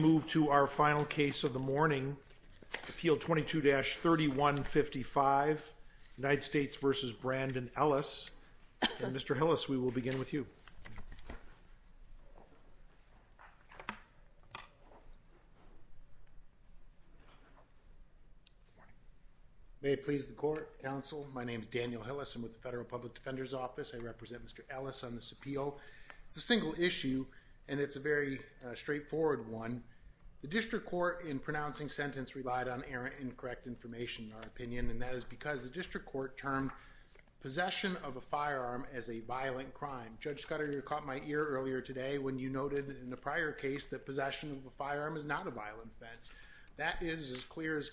We move to our final case of the morning, Appeal 22-3155, United States v. Brandon Ellis. Mr. Hillis, we will begin with you. May it please the court, counsel, my name is Daniel Hillis, I'm with the Federal Public Defender's Office. I represent Mr. Ellis on this appeal. It's a single issue, and it's a very straightforward one. The District Court, in pronouncing sentence, relied on errant, incorrect information, in our opinion, and that is because the District Court termed possession of a firearm as a violent crime. Judge Scudder, you caught my ear earlier today when you noted in a prior case that possession of a firearm is not a violent offense. That is as clear as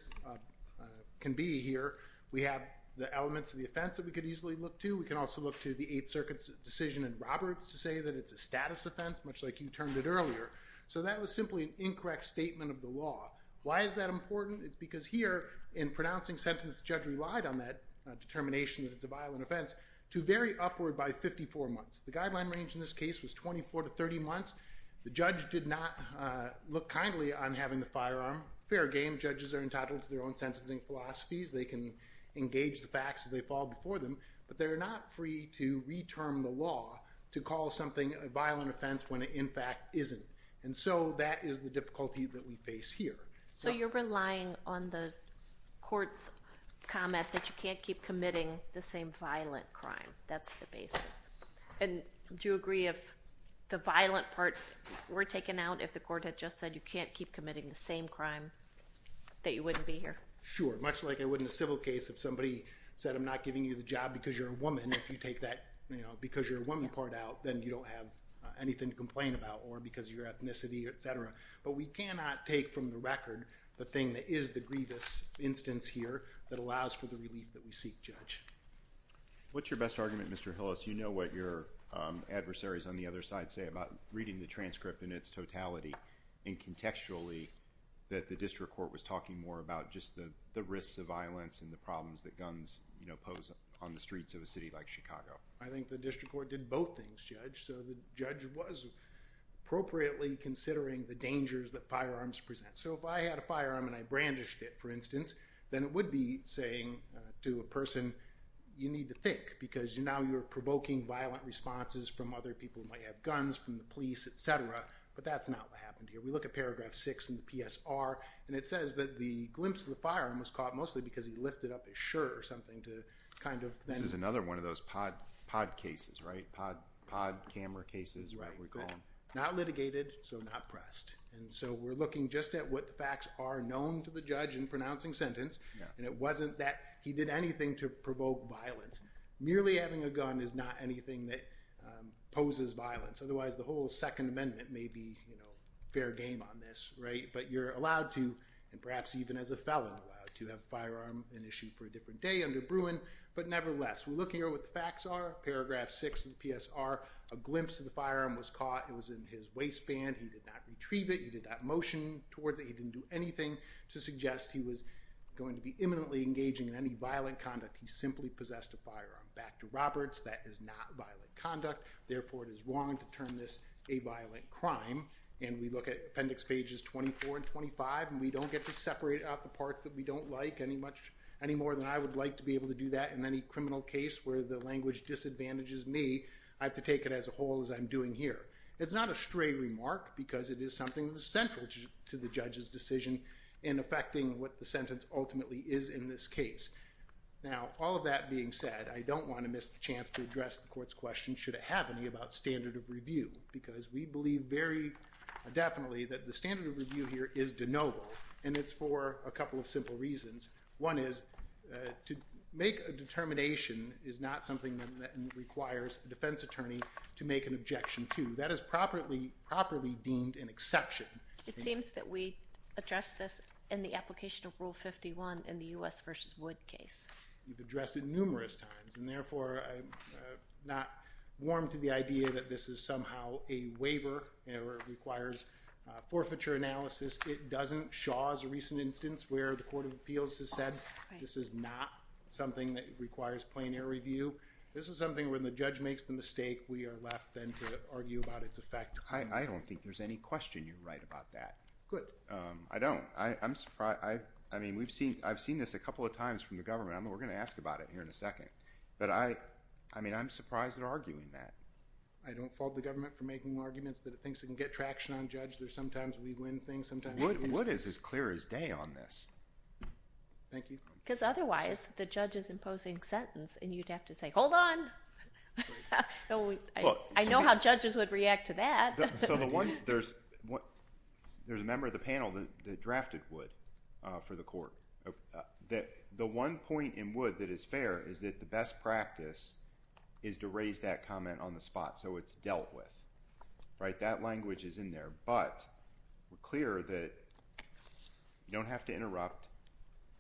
can be here. We have the elements of the offense that we could easily look to. We can also look to the Eighth Circuit's decision in Roberts to say that it's a status offense, much like you termed it earlier. So that was simply an incorrect statement of the law. Why is that important? It's because here, in pronouncing sentence, the judge relied on that determination that it's a violent offense to vary upward by 54 months. The guideline range in this case was 24 to 30 months. The judge did not look kindly on having the firearm. Fair game. Judges are entitled to their own sentencing philosophies. They can engage the facts as they fall before them, but they're not free to re-term the law to call something a violent offense when it, in fact, isn't. And so that is the difficulty that we face here. So you're relying on the court's comment that you can't keep committing the same violent crime. That's the basis. And do you agree if the violent part were taken out, if the court had just said you can't keep committing the same crime, that you wouldn't be here? Sure. Much like I would in a civil case if somebody said I'm not giving you the job because you're a woman. If you take that, you know, because you're a woman part out, then you don't have anything to complain about or because of your ethnicity, etc. But we cannot take from the record the thing that is the grievous instance here that allows for the relief that we seek, Judge. What's your best argument, Mr. Hillis? You know what your adversaries on the other side say about reading the transcript in its the risks of violence and the problems that guns, you know, pose on the streets of a city like Chicago. I think the district court did both things, Judge. So the judge was appropriately considering the dangers that firearms present. So if I had a firearm and I brandished it, for instance, then it would be saying to a person you need to think because now you're provoking violent responses from other people who might have guns, from the police, etc. But that's not what happened here. We look at paragraph six in the PSR and it says that the glimpse of the firearm was caught mostly because he lifted up his shirt or something to kind of then... This is another one of those pod cases, right? Pod camera cases, whatever we call them. Not litigated, so not pressed. And so we're looking just at what the facts are known to the judge in pronouncing sentence. And it wasn't that he did anything to provoke violence. Merely having a gun is not anything that poses violence. Otherwise, the whole Second Amendment may be fair game on this, right? But you're allowed to, and perhaps even as a felon, allowed to have a firearm and issue for a different day under Bruin. But nevertheless, we're looking at what the facts are. Paragraph six of the PSR, a glimpse of the firearm was caught. It was in his waistband. He did not retrieve it. He did not motion towards it. He didn't do anything to suggest he was going to be imminently engaging in any violent conduct. He simply possessed a firearm. Back to Roberts. That is not violent conduct. Therefore, it is wrong to term this a violent crime. And we look at appendix pages 24 and 25, and we don't get to separate out the parts that we don't like any more than I would like to be able to do that in any criminal case where the language disadvantages me. I have to take it as a whole as I'm doing here. It's not a stray remark because it is something that is central to the judge's decision in affecting what the sentence ultimately is in this case. Now all of that being said, I don't want to miss the chance to address the court's question, should it have any, about standard of review because we believe very definitely that the standard of review here is de novo, and it's for a couple of simple reasons. One is to make a determination is not something that requires a defense attorney to make an objection to. That is properly deemed an exception. It seems that we addressed this in the application of Rule 51 in the U.S. v. Wood case. We've addressed it numerous times, and therefore I'm not warm to the idea that this is somehow a waiver or requires forfeiture analysis. It doesn't. Shaw's recent instance where the Court of Appeals has said this is not something that requires plain air review. This is something where the judge makes the mistake, we are left then to argue about its effect. I don't think there's any question you're right about that. Good. I don't. I'm surprised. I mean, I've seen this a couple of times from the government. I mean, we're going to ask about it here in a second, but I mean, I'm surprised they're arguing that. I don't fault the government for making arguments that it thinks it can get traction on judge. There's sometimes we win things, sometimes we lose things. Wood is as clear as day on this. Thank you. Because otherwise, the judge is imposing sentence, and you'd have to say, hold on. I know how judges would react to that. So the one, there's a member of the panel that drafted Wood for the court. The one point in Wood that is fair is that the best practice is to raise that comment on the spot. So it's dealt with. Right? That language is in there, but we're clear that you don't have to interrupt,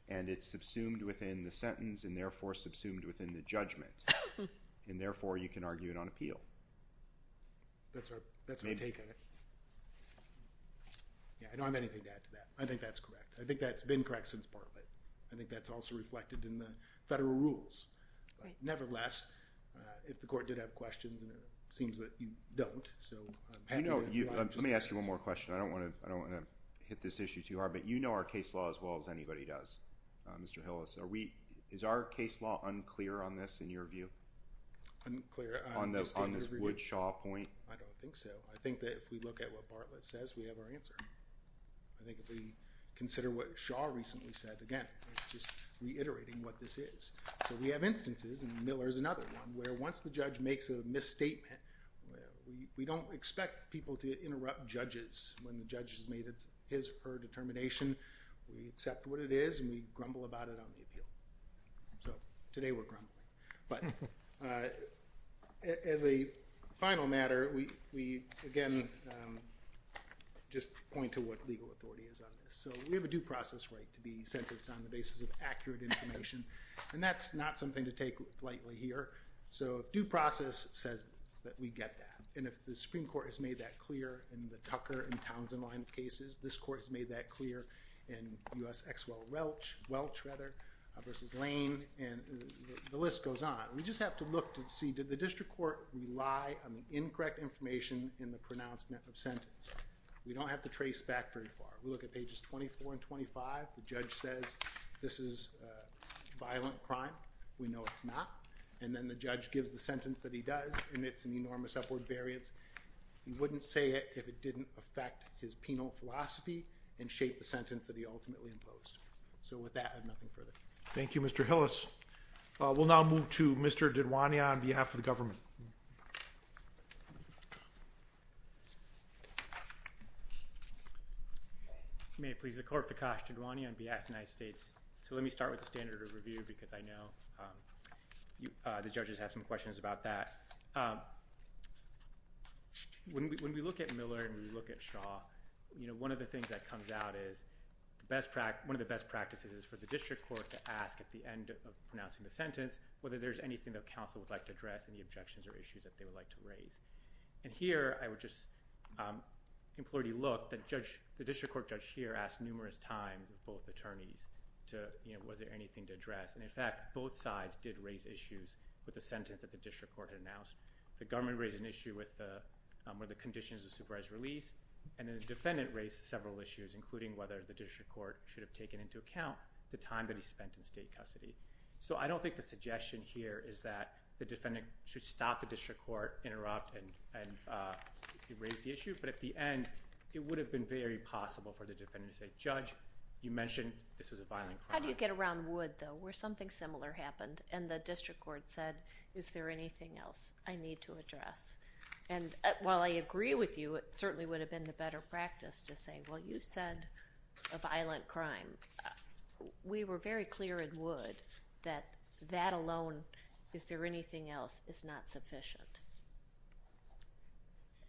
and it's subsumed within the sentence, and therefore subsumed within the judgment, and therefore you can argue it on appeal. That's our take on it. Yeah. I don't have anything to add to that. I think that's correct. I think that's been correct since Bartlett. I think that's also reflected in the federal rules. Right. Nevertheless, if the court did have questions, and it seems that you don't, so I'm happy... You know, let me ask you one more question. I don't want to, I don't want to hit this issue too hard, but you know our case law as well as anybody does, Mr. Hillis. Are we, is our case law unclear on this in your view? Unclear... On this Wood-Shaw point? I don't think so. I think that if we look at what Bartlett says, we have our answer. I think if we consider what Shaw recently said, again, just reiterating what this is. So we have instances, and Miller's another one, where once the judge makes a misstatement, we don't expect people to interrupt judges when the judge has made his or her determination. We accept what it is, and we grumble about it on the appeal. So today we're grumbling. But as a final matter, we again just point to what legal authority is on this. So we have a due process right to be sentenced on the basis of accurate information, and that's not something to take lightly here. So if due process says that we get that, and if the Supreme Court has made that clear in the Tucker and Townsend line of cases, this Court has made that clear in U.S. ex-well rather, versus Lane, and the list goes on. We just have to look to see, did the district court rely on the incorrect information in the pronouncement of sentence? We don't have to trace back very far. We look at pages 24 and 25. The judge says, this is a violent crime. We know it's not. And then the judge gives the sentence that he does, and it's an enormous upward variance. He wouldn't say it if it didn't affect his penal philosophy and shape the sentence that would be ultimately imposed. So with that, I have nothing further. Thank you, Mr. Hillis. We'll now move to Mr. Didwaniya on behalf of the government. May it please the Court, Fikash Didwaniya on behalf of the United States. So let me start with the standard of review because I know the judges have some questions about that. When we look at Miller and we look at Shaw, one of the things that comes out is one of the best practices is for the district court to ask at the end of pronouncing the sentence whether there's anything that counsel would like to address and the objections or issues that they would like to raise. And here, I would just implore you to look. The district court judge here asked numerous times of both attorneys was there anything to address. And in fact, both sides did raise issues with the sentence that the district court had announced. The government raised an issue with the conditions of supervised release and then the defendant raised several issues including whether the district court should have taken into account the time that he spent in state custody. So I don't think the suggestion here is that the defendant should stop the district court, interrupt, and erase the issue. But at the end, it would have been very possible for the defendant to say, judge, you mentioned this was a violent crime. How do you get around Wood though? Where something similar happened and the district court said, is there anything else I need to address? And while I agree with you, it certainly would have been the better practice to say, well, you said a violent crime. We were very clear at Wood that that alone, is there anything else, is not sufficient.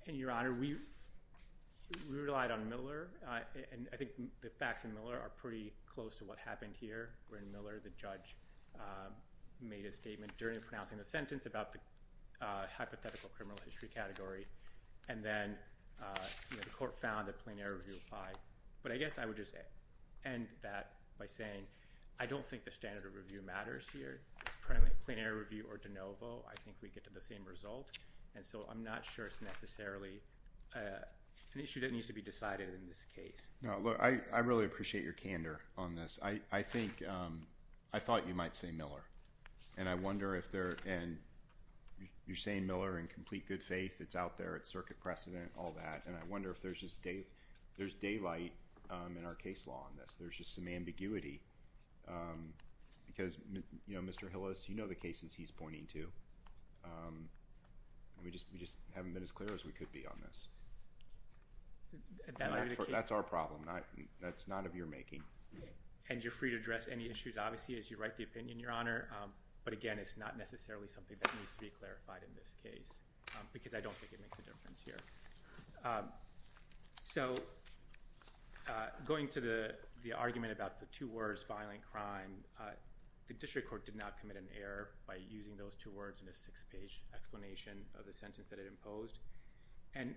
And Your Honor, we relied on Miller. And I think the facts in Miller are pretty close to what happened here. We're in Miller. The judge made a statement during pronouncing the sentence about the hypothetical criminal history category. And then the court found that plenary review applied. But I guess I would just end that by saying, I don't think the standard of review matters here. Plenary review or de novo, I think we get to the same result. And so I'm not sure it's necessarily an issue that needs to be decided in this case. No. I really appreciate your candor on this. I think, I thought you might say Miller. And I wonder if there, and you're saying Miller in complete good faith. It's out there. It's circuit precedent, all that. And I wonder if there's just daylight in our case law on this. There's just some ambiguity. Because, you know, Mr. Hillis, you know the cases he's pointing to. We just haven't been as clear as we could be on this. That's our problem. That's not of your making. And you're free to address any issues, obviously, as you write the opinion, Your Honor. But again, it's not necessarily something that needs to be clarified in this case. Because I don't think it makes a difference here. So going to the argument about the two words, violent crime, the district court did not commit an error by using those two words in a six-page explanation of the sentence that it imposed. And,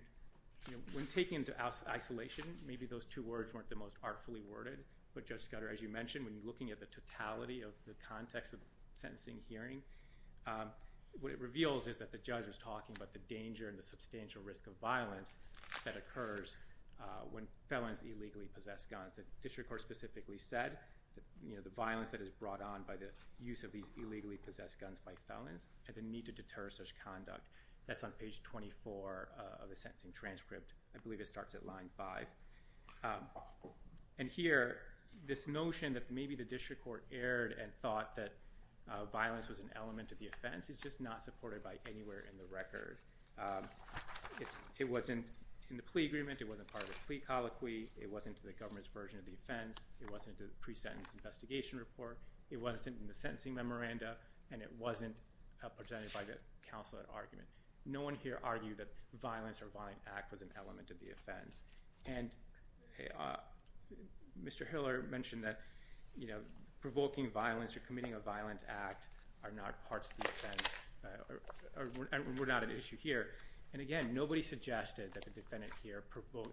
you know, when taken to isolation, maybe those two words weren't the most artfully worded. But Judge Scudder, as you mentioned, when you're looking at the totality of the context of sentencing hearing, what it reveals is that the judge was talking about the danger and the substantial risk of violence that occurs when felons illegally possess guns. The district court specifically said, you know, the violence that is brought on by the use of these illegally possessed guns by felons and the need to deter such conduct. That's on page 24 of the sentencing transcript. I believe it starts at line 5. And here, this notion that maybe the district court erred and thought that violence was an element of the offense is just not supported by anywhere in the record. It wasn't in the plea agreement. It wasn't part of the plea colloquy. It wasn't in the government's version of the offense. It wasn't in the pre-sentence investigation report. It wasn't in the sentencing memoranda. And it wasn't presented by the counsel at argument. No one here argued that violence or violent act was an element of the offense. And Mr. Hiller mentioned that, you know, provoking violence or committing a violent act are not parts of the offense. We're not at issue here. And again, nobody suggested that the defendant here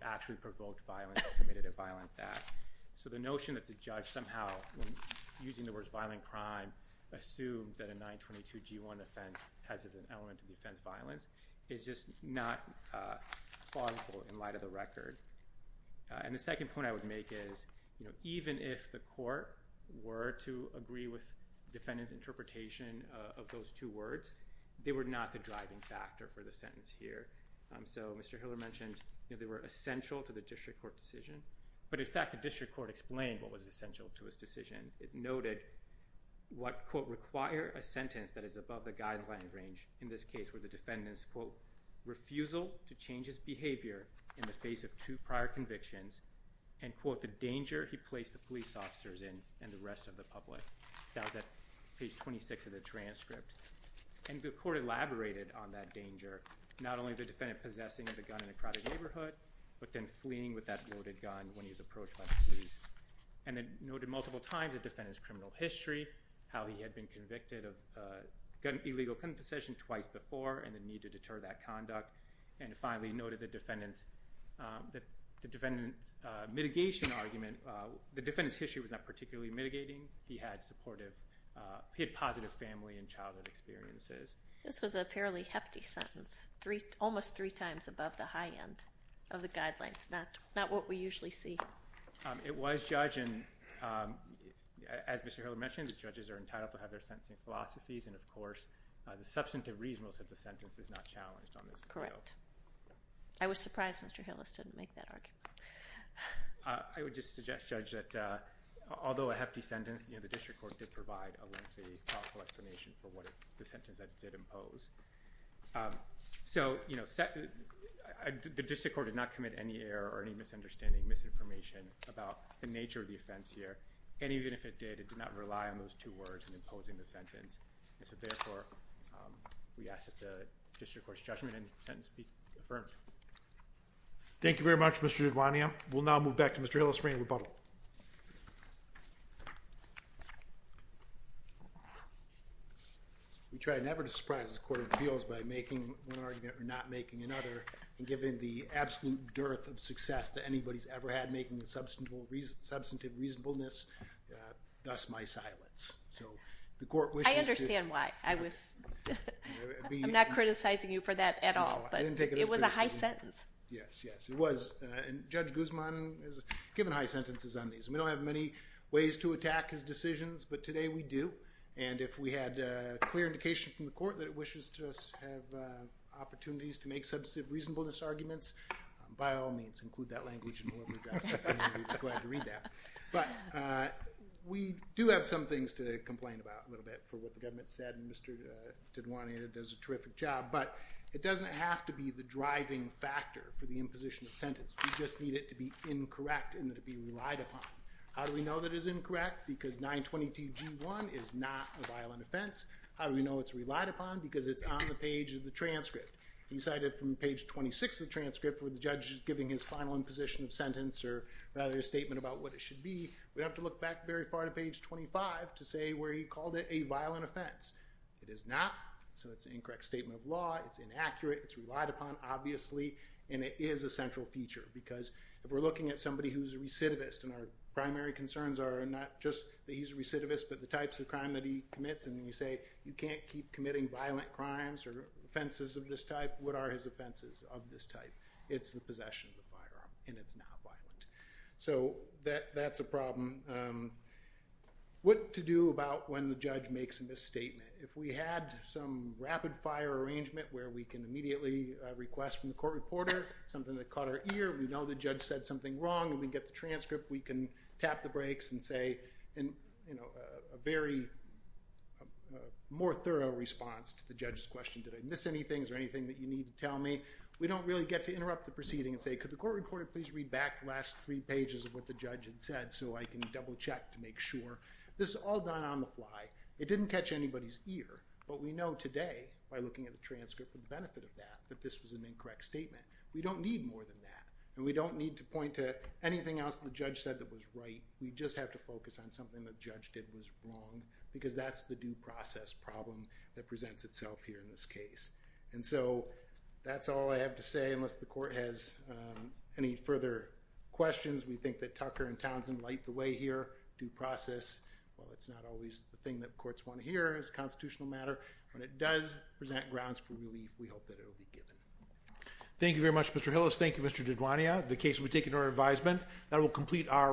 actually provoked violence or committed a violent act. So the notion that the judge somehow, using the words violent crime, assumed that a 922G1 offense has as an element of the offense violence is just not plausible in light of the record. And the second point I would make is, you know, even if the court were to agree with defendant's interpretation of those two words, they were not the driving factor for the sentence here. So Mr. Hiller mentioned, you know, they were essential to the district court decision. But in fact, the district court explained what was essential to his decision. It noted what, quote, require a sentence that is above the guideline range in this case where the defendant's, quote, refusal to change his behavior in the face of two prior convictions and, quote, the danger he placed the police officers in and the rest of the public. That was at page 26 of the transcript. And the court elaborated on that danger, not only the defendant possessing the gun in a when he was approached by the police. And it noted multiple times the defendant's criminal history, how he had been convicted of illegal gun possession twice before and the need to deter that conduct. And it finally noted the defendant's mitigation argument. The defendant's history was not particularly mitigating. He had positive family and childhood experiences. This was a fairly hefty sentence, almost three times above the high end of the guidelines, not what we usually see. It was, Judge, and as Mr. Hiller mentioned, the judges are entitled to have their sentencing philosophies. And, of course, the substantive reasonableness of the sentence is not challenged on this. Correct. I was surprised Mr. Hillis didn't make that argument. I would just suggest, Judge, that although a hefty sentence, the district court did provide a lengthy, thoughtful explanation for the sentence that it did impose. So, you know, the district court did not commit any error or any misunderstanding, misinformation, about the nature of the offense here. And even if it did, it did not rely on those two words in imposing the sentence. And so, therefore, we ask that the district court's judgment and sentence be affirmed. Thank you very much, Mr. Dudwania. We'll now move back to Mr. Hillis for any rebuttal. We try never to surprise the court of appeals by making one argument or not making another. And given the absolute dearth of success that anybody's ever had making the substantive reasonableness, thus my silence. I understand why. I'm not criticizing you for that at all. But it was a high sentence. Yes, yes, it was. And Judge Guzman has given high sentences on these. And we don't have many ways to attack his decisions, but today we do. And if we had clear indication from the court that it wishes to have opportunities to make substantive reasonableness arguments, by all means, include that language in whatever you've got. We'd be glad to read that. But we do have some things to complain about a little bit for what the government said, and Mr. Dudwania does a terrific job. But it doesn't have to be the driving factor for the imposition of sentence. We just need it to be incorrect and to be relied upon. How do we know that it's incorrect? Because 922G1 is not a violent offense. How do we know it's relied upon? Because it's on the page of the transcript. He cited from page 26 of the transcript where the judge is giving his final imposition of sentence, or rather a statement about what it should be. We'd have to look back very far to page 25 to say where he called it a violent offense. It is not. So it's an incorrect statement of law. It's inaccurate. It's relied upon, obviously. And it is a central feature because if we're looking at somebody who's a recidivist, and our primary concerns are not just that he's a recidivist but the types of crime that he commits, and you say you can't keep committing violent crimes or offenses of this type, what are his offenses of this type? It's the possession of the firearm, and it's not violent. So that's a problem. What to do about when the judge makes a misstatement? If we had some rapid-fire arrangement where we can immediately request from the court reporter something that caught our ear, we know the judge said something wrong, and we get the transcript, we can tap the brakes and say a very more thorough response to the judge's question. Did I miss anything? Is there anything that you need to tell me? We don't really get to interrupt the proceeding and say, could the court reporter please read back the last three pages of what the judge had said so I can double-check to make sure. This is all done on the fly. It didn't catch anybody's ear, but we know today by looking at the transcript for the benefit of that, that this was an incorrect statement. We don't need more than that, and we don't need to point to anything else the judge said that was right. We just have to focus on something the judge did was wrong because that's the due process problem that presents itself here in this case. And so that's all I have to say unless the court has any further questions. We think that Tucker and Townsend light the way here. Due process, while it's not always the thing that courts want to hear as a constitutional matter, when it does present grounds for relief, we hope that it will be given. Thank you very much, Mr. Hillis. Thank you, Mr. DiGuania. The case will be taken to our advisement. That will complete our hearing.